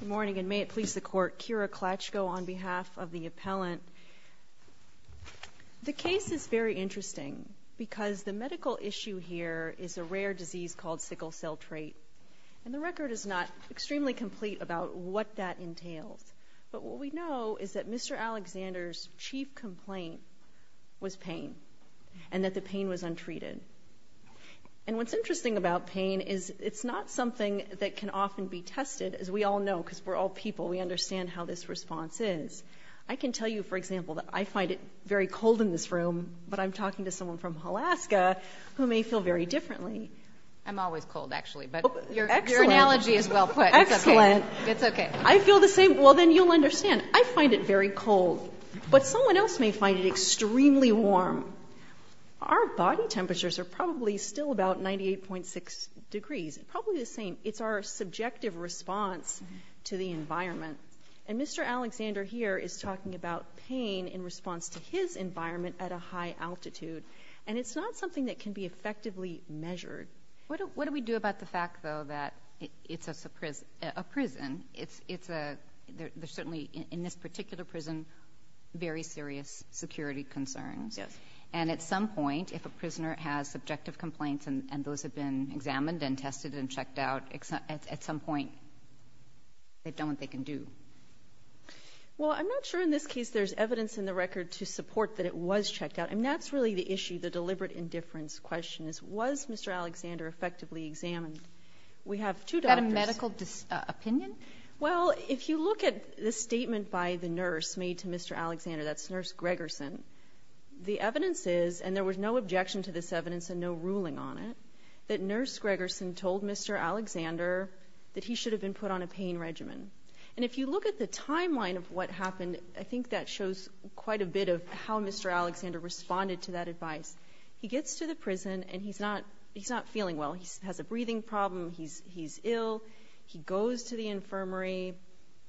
Good morning, and may it please the Court, Kira Klatchko on behalf of the appellant. The case is very interesting because the medical issue here is a rare disease called sickle cell trait, and the record is not extremely complete about what that entails. But what we know is that Mr. Alexander's chief complaint was pain and that the pain was untreated. And what's interesting about pain is it's not something that can often be tested, as we all know, because we're all people. We understand how this response is. I can tell you, for example, that I find it very cold in this room, but I'm talking to someone from Alaska who may feel very differently. I'm always cold, actually, but your analogy is well put. Excellent. It's okay. I feel the same. Well, then you'll understand. I find it very cold, but someone else may find it extremely warm. Our body temperatures are probably still about 98.6 degrees, probably the same. It's our subjective response to the environment. And Mr. Alexander here is talking about pain in response to his environment at a high altitude, and it's not something that can be effectively measured. What do we do about the fact, though, that it's a prison? There's certainly in this particular prison very serious security concerns. Yes. And at some point, if a prisoner has subjective complaints and those have been examined and tested and checked out, at some point they've done what they can do. Well, I'm not sure in this case there's evidence in the record to support that it was checked out. I mean, that's really the issue, the deliberate indifference question, is was Mr. Alexander effectively examined? We have two doctors. Was there a medical opinion? Well, if you look at the statement by the nurse made to Mr. Alexander, that's Nurse Gregerson, the evidence is, and there was no objection to this evidence and no ruling on it, that Nurse Gregerson told Mr. Alexander that he should have been put on a pain regimen. And if you look at the timeline of what happened, I think that shows quite a bit of how Mr. Alexander responded to that advice. He gets to the prison and he's not feeling well. He has a breathing problem. He's ill. He goes to the infirmary.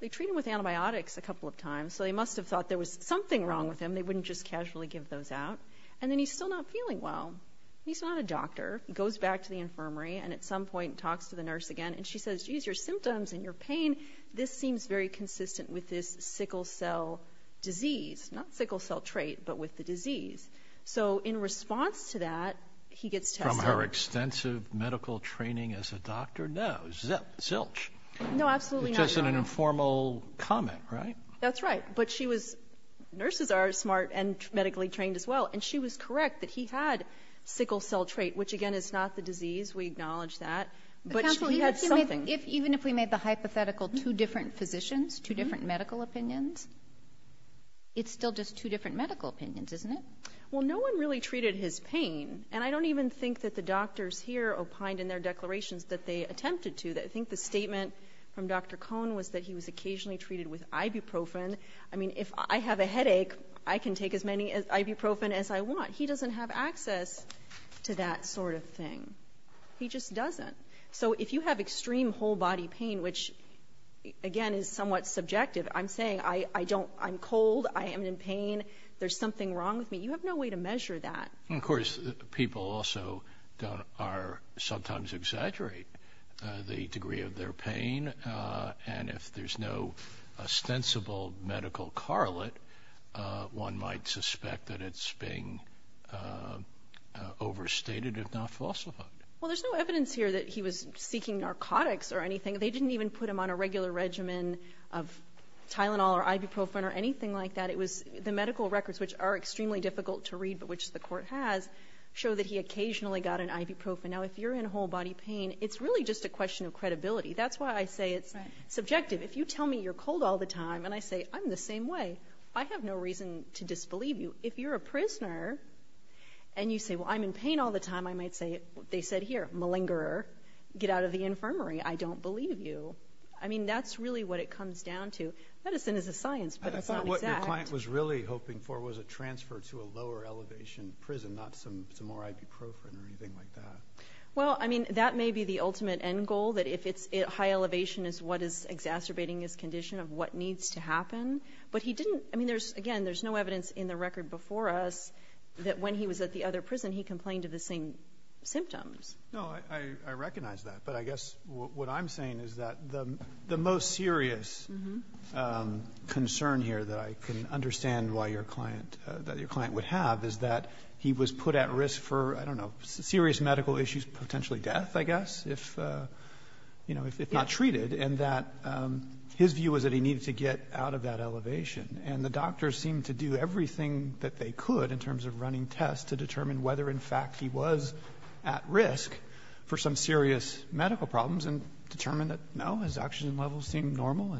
They treat him with antibiotics a couple of times, so they must have thought there was something wrong with him. They wouldn't just casually give those out. And then he's still not feeling well. He's not a doctor. He goes back to the infirmary and at some point talks to the nurse again, and she says, geez, your symptoms and your pain, this seems very consistent with this sickle cell disease. Not sickle cell trait, but with the disease. So in response to that, he gets tested. From her extensive medical training as a doctor? No. Zilch. No, absolutely not. Just an informal comment, right? That's right. But she was ñ nurses are smart and medically trained as well, and she was correct that he had sickle cell trait, which, again, is not the disease. We acknowledge that. But he had something. Counsel, even if we made the hypothetical two different physicians, two different medical opinions, it's still just two different medical opinions, isn't it? Well, no one really treated his pain, and I don't even think that the doctors here opined in their declarations that they attempted to. I think the statement from Dr. Cohn was that he was occasionally treated with ibuprofen. I mean, if I have a headache, I can take as many ibuprofen as I want. He doesn't have access to that sort of thing. He just doesn't. So if you have extreme whole body pain, which, again, is somewhat subjective, I'm saying I don't ñ I'm cold, I am in pain, there's something wrong with me. You have no way to measure that. And, of course, people also are sometimes exaggerate the degree of their pain, and if there's no ostensible medical correlate, one might suspect that it's being overstated, if not falsified. Well, there's no evidence here that he was seeking narcotics or anything. They didn't even put him on a regular regimen of Tylenol or ibuprofen or anything like that. It was the medical records, which are extremely difficult to read, but which the Court has, show that he occasionally got an ibuprofen. Now, if you're in whole body pain, it's really just a question of credibility. That's why I say it's subjective. If you tell me you're cold all the time and I say, I'm the same way, I have no reason to disbelieve you. If you're a prisoner and you say, well, I'm in pain all the time, I might say, they said here, malingerer, get out of the infirmary, I don't believe you. I mean, that's really what it comes down to. Medicine is a science, but it's not exact. What your client was really hoping for was a transfer to a lower elevation prison, not some more ibuprofen or anything like that. Well, I mean, that may be the ultimate end goal, that if it's high elevation is what is exacerbating his condition of what needs to happen. But he didn't, I mean, again, there's no evidence in the record before us that when he was at the other prison, he complained of the same symptoms. No, I recognize that. But I guess what I'm saying is that the most serious concern here that I can understand why your client would have is that he was put at risk for, I don't know, serious medical issues, potentially death, I guess, if, you know, if not treated, and that his view was that he needed to get out of that elevation. And the doctors seemed to do everything that they could in terms of running tests to determine whether, in fact, he was at risk for some serious medical problems and determined that, no, his oxygen levels seemed normal.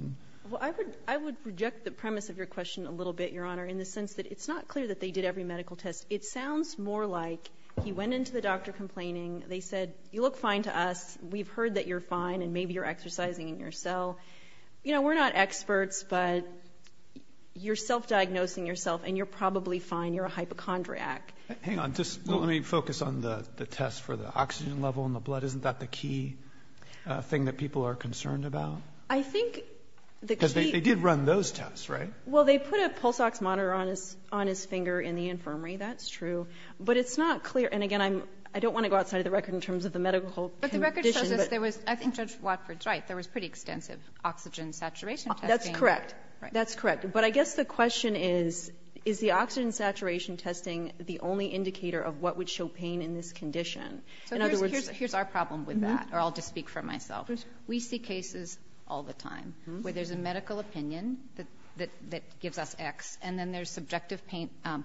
Well, I would reject the premise of your question a little bit, Your Honor, in the sense that it's not clear that they did every medical test. It sounds more like he went into the doctor complaining. They said, you look fine to us. We've heard that you're fine and maybe you're exercising in your cell. You know, we're not experts, but you're self-diagnosing yourself and you're probably fine, you're a hypochondriac. Hang on. Just let me focus on the test for the oxygen level in the blood. Isn't that the key thing that people are concerned about? I think the key. Because they did run those tests, right? Well, they put a pulse-ox monitor on his finger in the infirmary. That's true. But it's not clear. And again, I don't want to go outside of the record in terms of the medical conditions. But the record shows us there was, I think Judge Watford's right. There was pretty extensive oxygen saturation testing. That's correct. That's correct. But I guess the question is, is the oxygen saturation testing the only indicator of what would show pain in this condition? So here's our problem with that, or I'll just speak for myself. We see cases all the time where there's a medical opinion that gives us X, and then there's subjective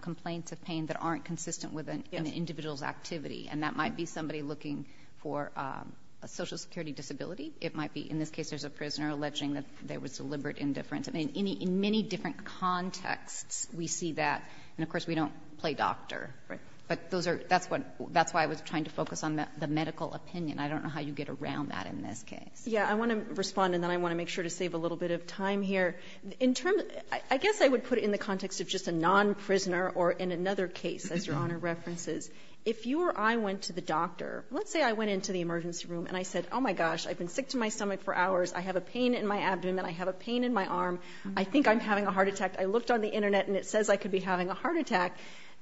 complaints of pain that aren't consistent with an individual's activity. And that might be somebody looking for a Social Security disability. It might be, in this case, there's a prisoner alleging that there was deliberate indifference. I mean, in many different contexts, we see that. And of course, we don't play doctor. But those are, that's what, that's why I was trying to focus on the medical opinion. I don't know how you get around that in this case. Yeah. I want to respond, and then I want to make sure to save a little bit of time here. In terms of, I guess I would put it in the context of just a non-prisoner or in another case, as Your Honor references. If you or I went to the doctor, let's say I went into the emergency room and I said, oh, my gosh, I've been sick to my stomach for hours, I have a pain in my abdomen, I have a pain in my arm, I think I'm having a heart attack. I looked on the Internet and it says I could be having a heart attack.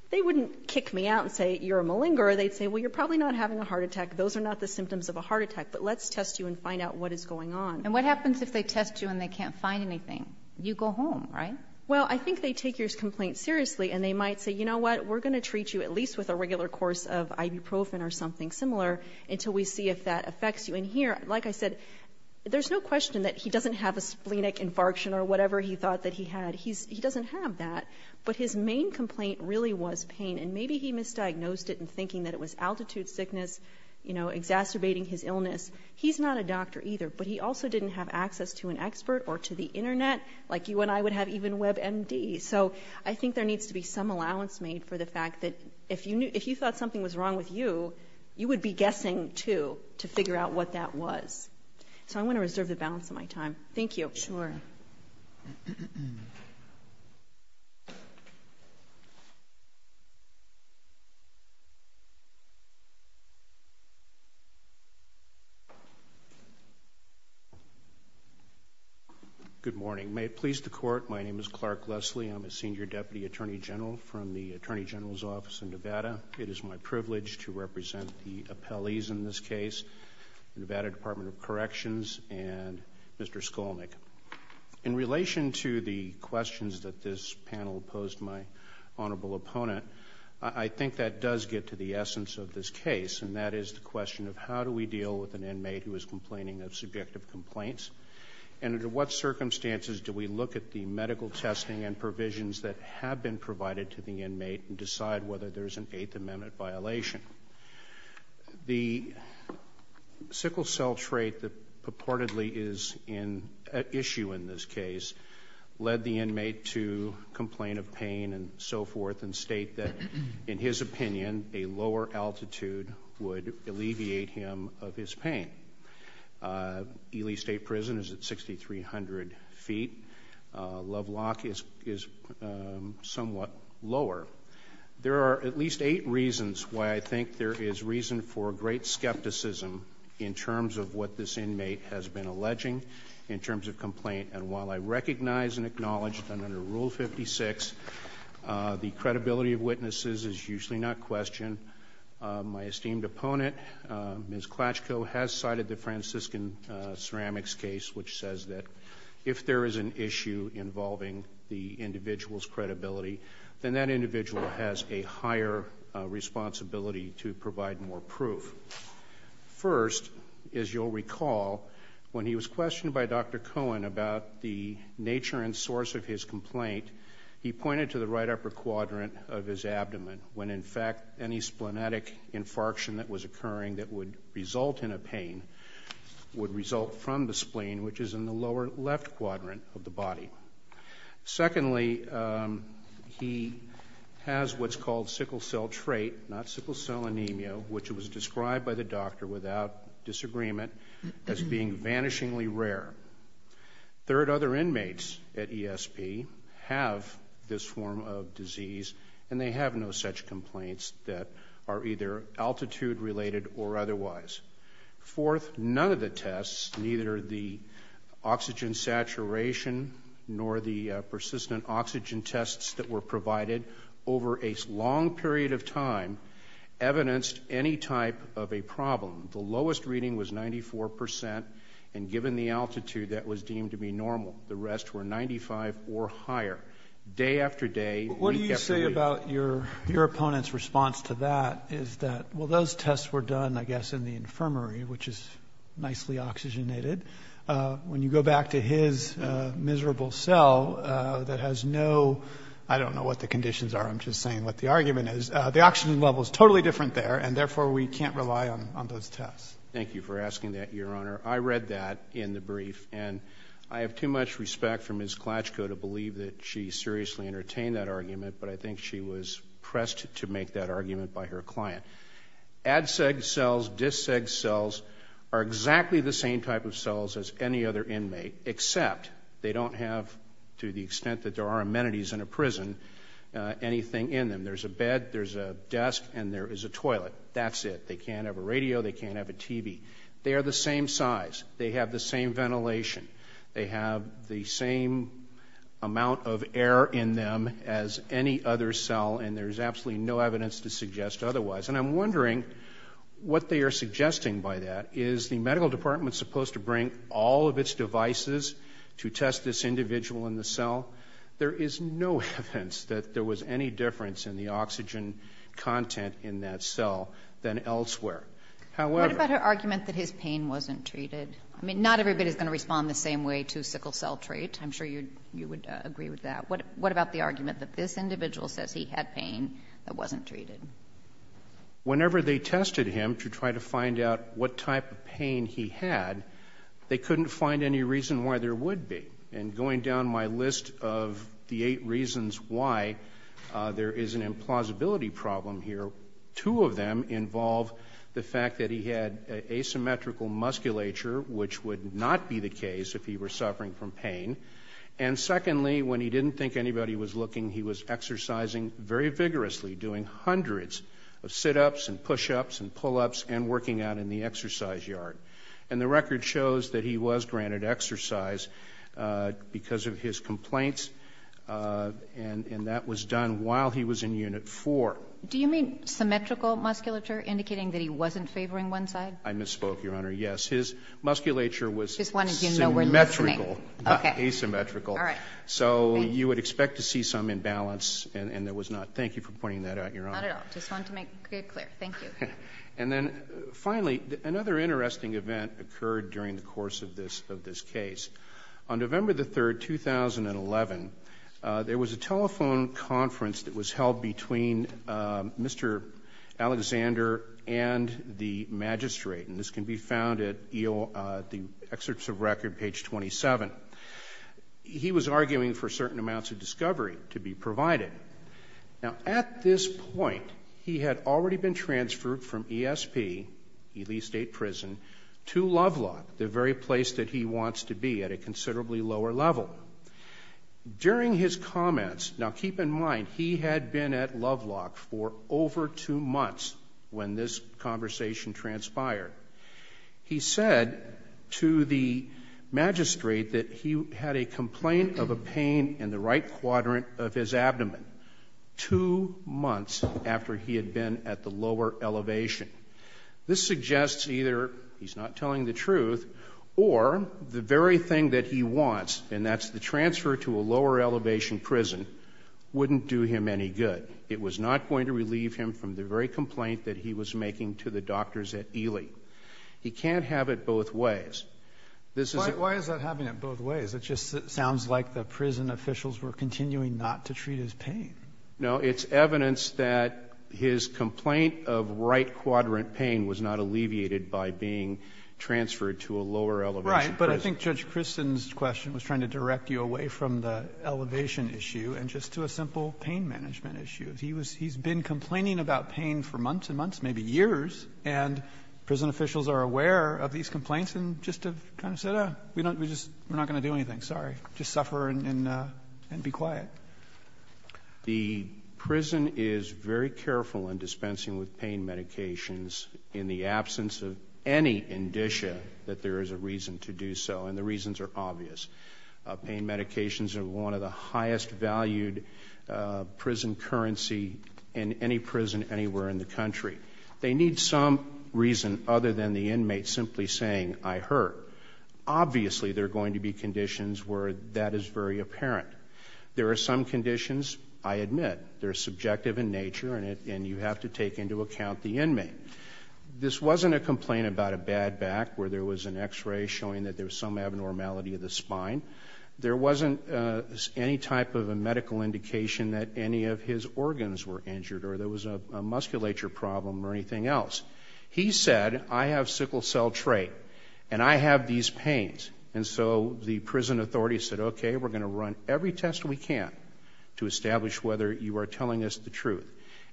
They wouldn't kick me out and say, you're a malingerer. They'd say, well, you're probably not having a heart attack. Those are not the symptoms of a heart attack. But let's test you and find out what is going on. And what happens if they test you and they can't find anything? You go home, right? Well, I think they take your complaint seriously and they might say, you know what, we're going to treat you at least with a regular course of ibuprofen or something similar until we see if that affects you. And here, like I said, there's no question that he doesn't have a splenic infarction or whatever he thought that he had. He doesn't have that. But his main complaint really was pain. And maybe he misdiagnosed it in thinking that it was altitude sickness, you know, exacerbating his illness. He's not a doctor either. But he also didn't have access to an expert or to the Internet like you and I would have even WebMD. So I think there needs to be some allowance made for the fact that if you thought something was wrong with you, you would be guessing, too, to figure out what that was. So I want to reserve the balance of my time. Thank you. Sure. Good morning. May it please the Court, my name is Clark Leslie. It is my privilege to represent the appellees in this case, the Nevada Department of Corrections and Mr. Skolnick. In relation to the questions that this panel posed my honorable opponent, I think that does get to the essence of this case, and that is the question of how do we deal with an inmate who is complaining of subjective complaints, and under what circumstances do we look at the medical testing and provisions that have been provided to the inmate and decide whether there is an Eighth Amendment violation. The sickle cell trait that purportedly is an issue in this case led the inmate to complain of pain and so forth and state that, in his opinion, a lower altitude would alleviate him of his pain. Ely State Prison is at 6,300 feet. Love Lock is somewhat lower. There are at least eight reasons why I think there is reason for great skepticism in terms of what this inmate has been alleging in terms of complaint. And while I recognize and acknowledge that under Rule 56 the credibility of witnesses is usually not questioned, my esteemed opponent, Ms. Klatchko, has cited the Franciscan Ceramics case, which says that if there is an issue involving the individual's credibility, then that individual has a higher responsibility to provide more proof. First, as you'll recall, when he was questioned by Dr. Cohen about the nature and source of his complaint, he pointed to the right upper quadrant of his abdomen, when in fact any splenic infarction that was occurring that would result in a pain would result from the spleen, which is in the lower left quadrant of the body. Secondly, he has what's called sickle cell trait, not sickle cell anemia, which was described by the doctor without disagreement as being vanishingly rare. Third, other inmates at ESP have this form of disease, and they have no such complaints that are either altitude-related or otherwise. Fourth, none of the tests, neither the oxygen saturation nor the persistent oxygen tests that were provided over a long period of time, evidenced any type of a problem. The lowest reading was 94 percent, and given the altitude, that was deemed to be normal. The rest were 95 or higher. Day after day, week after week. What do you say about your opponent's response to that, is that, well, those tests were done, I guess, in the infirmary, which is nicely oxygenated. When you go back to his miserable cell that has no – I don't know what the conditions are. I'm just saying what the argument is. The oxygen level is totally different there, and therefore, we can't rely on those tests. Thank you for asking that, Your Honor. I read that in the brief, and I have too much respect for Ms. Klatchko to believe that she seriously entertained that argument, but I think she was pressed to make that argument by her client. ADCEG cells, DISCEG cells are exactly the same type of cells as any other inmate, except they don't have, to the extent that there are amenities in a prison, anything in them. There's a bed, there's a desk, and there is a toilet. That's it. They can't have a radio, they can't have a TV. They are the same size. They have the same ventilation. They have the same amount of air in them as any other cell, and there's absolutely no evidence to suggest otherwise. And I'm wondering what they are suggesting by that. Is the medical department supposed to bring all of its devices to test this individual in the cell? There is no evidence that there was any difference in the oxygen content in that cell than elsewhere. However, What about her argument that his pain wasn't treated? I mean, not everybody is going to respond the same way to sickle cell trait. I'm sure you would agree with that. What about the argument that this individual says he had pain that wasn't treated? Whenever they tested him to try to find out what type of pain he had, they couldn't find any reason why there would be. And going down my list of the eight reasons why there is an implausibility problem here, two of them involve the fact that he had asymmetrical musculature, which would not be the case if he were suffering from pain. And secondly, when he didn't think anybody was looking, he was exercising very vigorously, doing hundreds of sit-ups and push-ups and pull-ups and working out in the exercise yard. And the record shows that he was granted exercise because of his complaints, and that was done while he was in Unit 4. Do you mean symmetrical musculature, indicating that he wasn't favoring one side? I misspoke, Your Honor. Yes. His musculature was symmetrical, not asymmetrical. Okay. All right. So you would expect to see some imbalance, and there was not. Thank you for pointing that out, Your Honor. Not at all. I just wanted to make it clear. Thank you. And then finally, another interesting event occurred during the course of this case. On November the 3rd, 2011, there was a telephone conference that was held between Mr. Alexander and the magistrate, and this can be found at the excerpts of record, page 27. He was arguing for certain amounts of discovery to be provided. Now, at this point, he had already been transferred from ESP, Ely State Prison, to Lovelock, the very place that he wants to be at a considerably lower level. During his comments, now keep in mind, he had been at Lovelock for over two months when this conversation transpired. He said to the magistrate that he had a complaint of a pain in the right quadrant of his abdomen two months after he had been at the lower elevation. This suggests either he's not telling the truth or the very thing that he wants, and that's the transfer to a lower elevation prison, wouldn't do him any good. It was not going to relieve him from the very complaint that he was making to the doctors at Ely. He can't have it both ways. This is a ---- Why is that having it both ways? It just sounds like the prison officials were continuing not to treat his pain. No. It's evidence that his complaint of right quadrant pain was not alleviated by being transferred to a lower elevation prison. Right. But I think Judge Christen's question was trying to direct you away from the elevation issue and just to a simple pain management issue. He was he's been complaining about pain for months and months, maybe years, and prison The prison is very careful in dispensing with pain medications in the absence of any indicia that there is a reason to do so, and the reasons are obvious. Pain medications are one of the highest valued prison currency in any prison anywhere in the country. They need some reason other than the inmate simply saying, I hurt. Obviously there are going to be conditions where that is very apparent. There are some conditions, I admit, that are subjective in nature and you have to take into account the inmate. This wasn't a complaint about a bad back where there was an x-ray showing that there was some abnormality of the spine. There wasn't any type of a medical indication that any of his organs were injured or there was a musculature problem or anything else. He said, I have sickle cell trait and I have these pains. And so the prison authority said, okay, we're going to run every test we can to establish whether you are telling us the truth.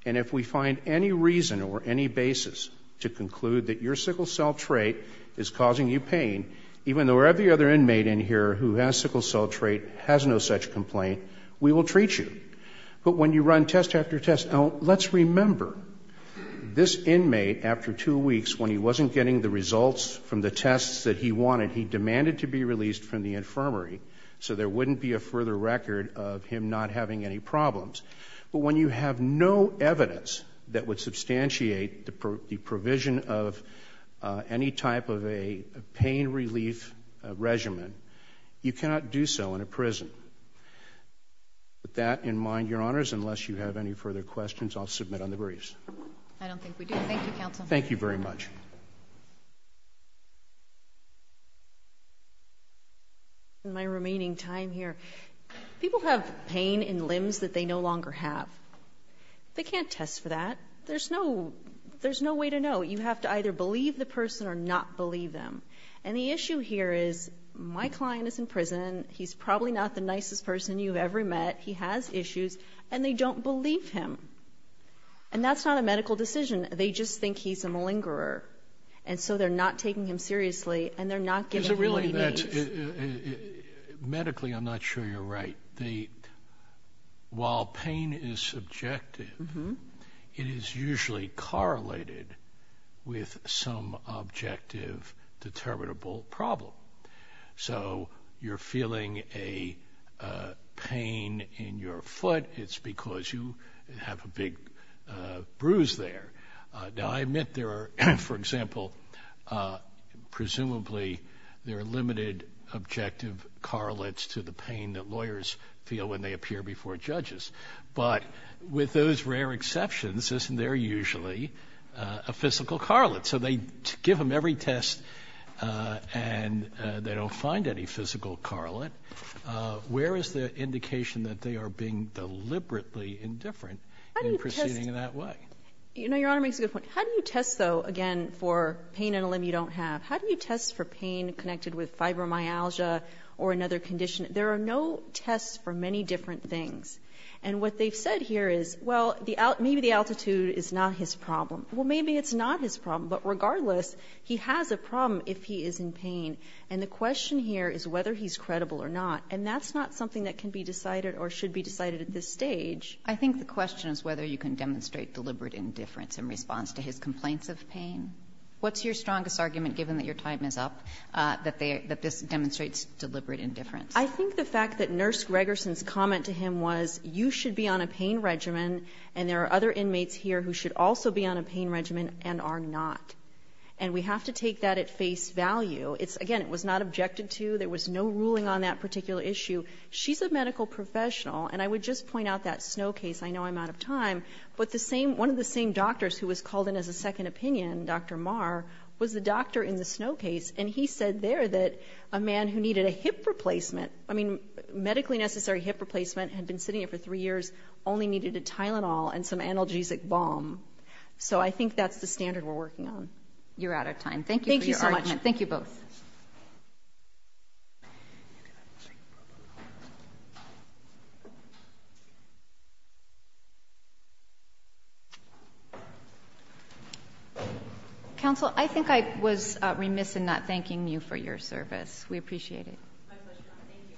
And if we find any reason or any basis to conclude that your sickle cell trait is causing you pain, even though every other inmate in here who has sickle cell trait has no such complaint, we will treat you. But when you run test after test, now let's remember this inmate after two weeks when he wasn't getting the results from the tests that he wanted, he demanded to be released from the infirmary so there wouldn't be a further record of him not having any problems. But when you have no evidence that would substantiate the provision of any type of a pain relief regimen, you cannot do so in a prison. With that in mind, Your Honors, unless you have any further questions, I'll submit on the briefs. I don't think we do. Thank you, counsel. Thank you very much. In my remaining time here, people have pain in limbs that they no longer have. They can't test for that. There's no way to know. You have to either believe the person or not believe them. And the issue here is my client is in prison. He's probably not the nicest person you've ever met. He has issues. And they don't believe him. And that's not a medical decision. They just think he's a malingerer. And so they're not taking him seriously, and they're not giving him what he needs. Medically, I'm not sure you're right. While pain is subjective, it is usually correlated with some objective, determinable problem. So you're feeling a pain in your foot. It's because you have a big bruise there. Now, I admit there are, for example, presumably there are limited objective correlates to the pain that lawyers feel when they appear before judges. But with those rare exceptions, isn't there usually a physical correlate? So they give him every test, and they don't find any physical correlate. Where is the indication that they are being deliberately indifferent in proceeding in that way? You know, Your Honor makes a good point. How do you test, though, again, for pain in a limb you don't have? How do you test for pain connected with fibromyalgia or another condition? There are no tests for many different things. And what they've said here is, well, maybe the altitude is not his problem. Well, maybe it's not his problem. But regardless, he has a problem if he is in pain. And the question here is whether he's credible or not. And that's not something that can be decided or should be decided at this stage. I think the question is whether you can demonstrate deliberate indifference in response to his complaints of pain. What's your strongest argument, given that your time is up, that this demonstrates deliberate indifference? I think the fact that Nurse Gregerson's comment to him was, you should be on a pain regimen, and there are other inmates here who should also be on a pain regimen and are not. And we have to take that at face value. It's, again, it was not objected to. There was no ruling on that particular issue. She's a medical professional. And I would just point out that Snow case. I know I'm out of time. But the same, one of the same doctors who was called in as a second opinion, Dr. Marr, was the doctor in the Snow case. And he said there that a man who needed a hip replacement, I mean, medically necessary hip replacement, had been sitting there for three years, only needed a Tylenol and some analgesic balm. So I think that's the standard we're working on. You're out of time. Thank you for your argument. Thank you so much. Thank you both. Counsel, I think I was remiss in not thanking you for your service. We appreciate it. My pleasure. Thank you.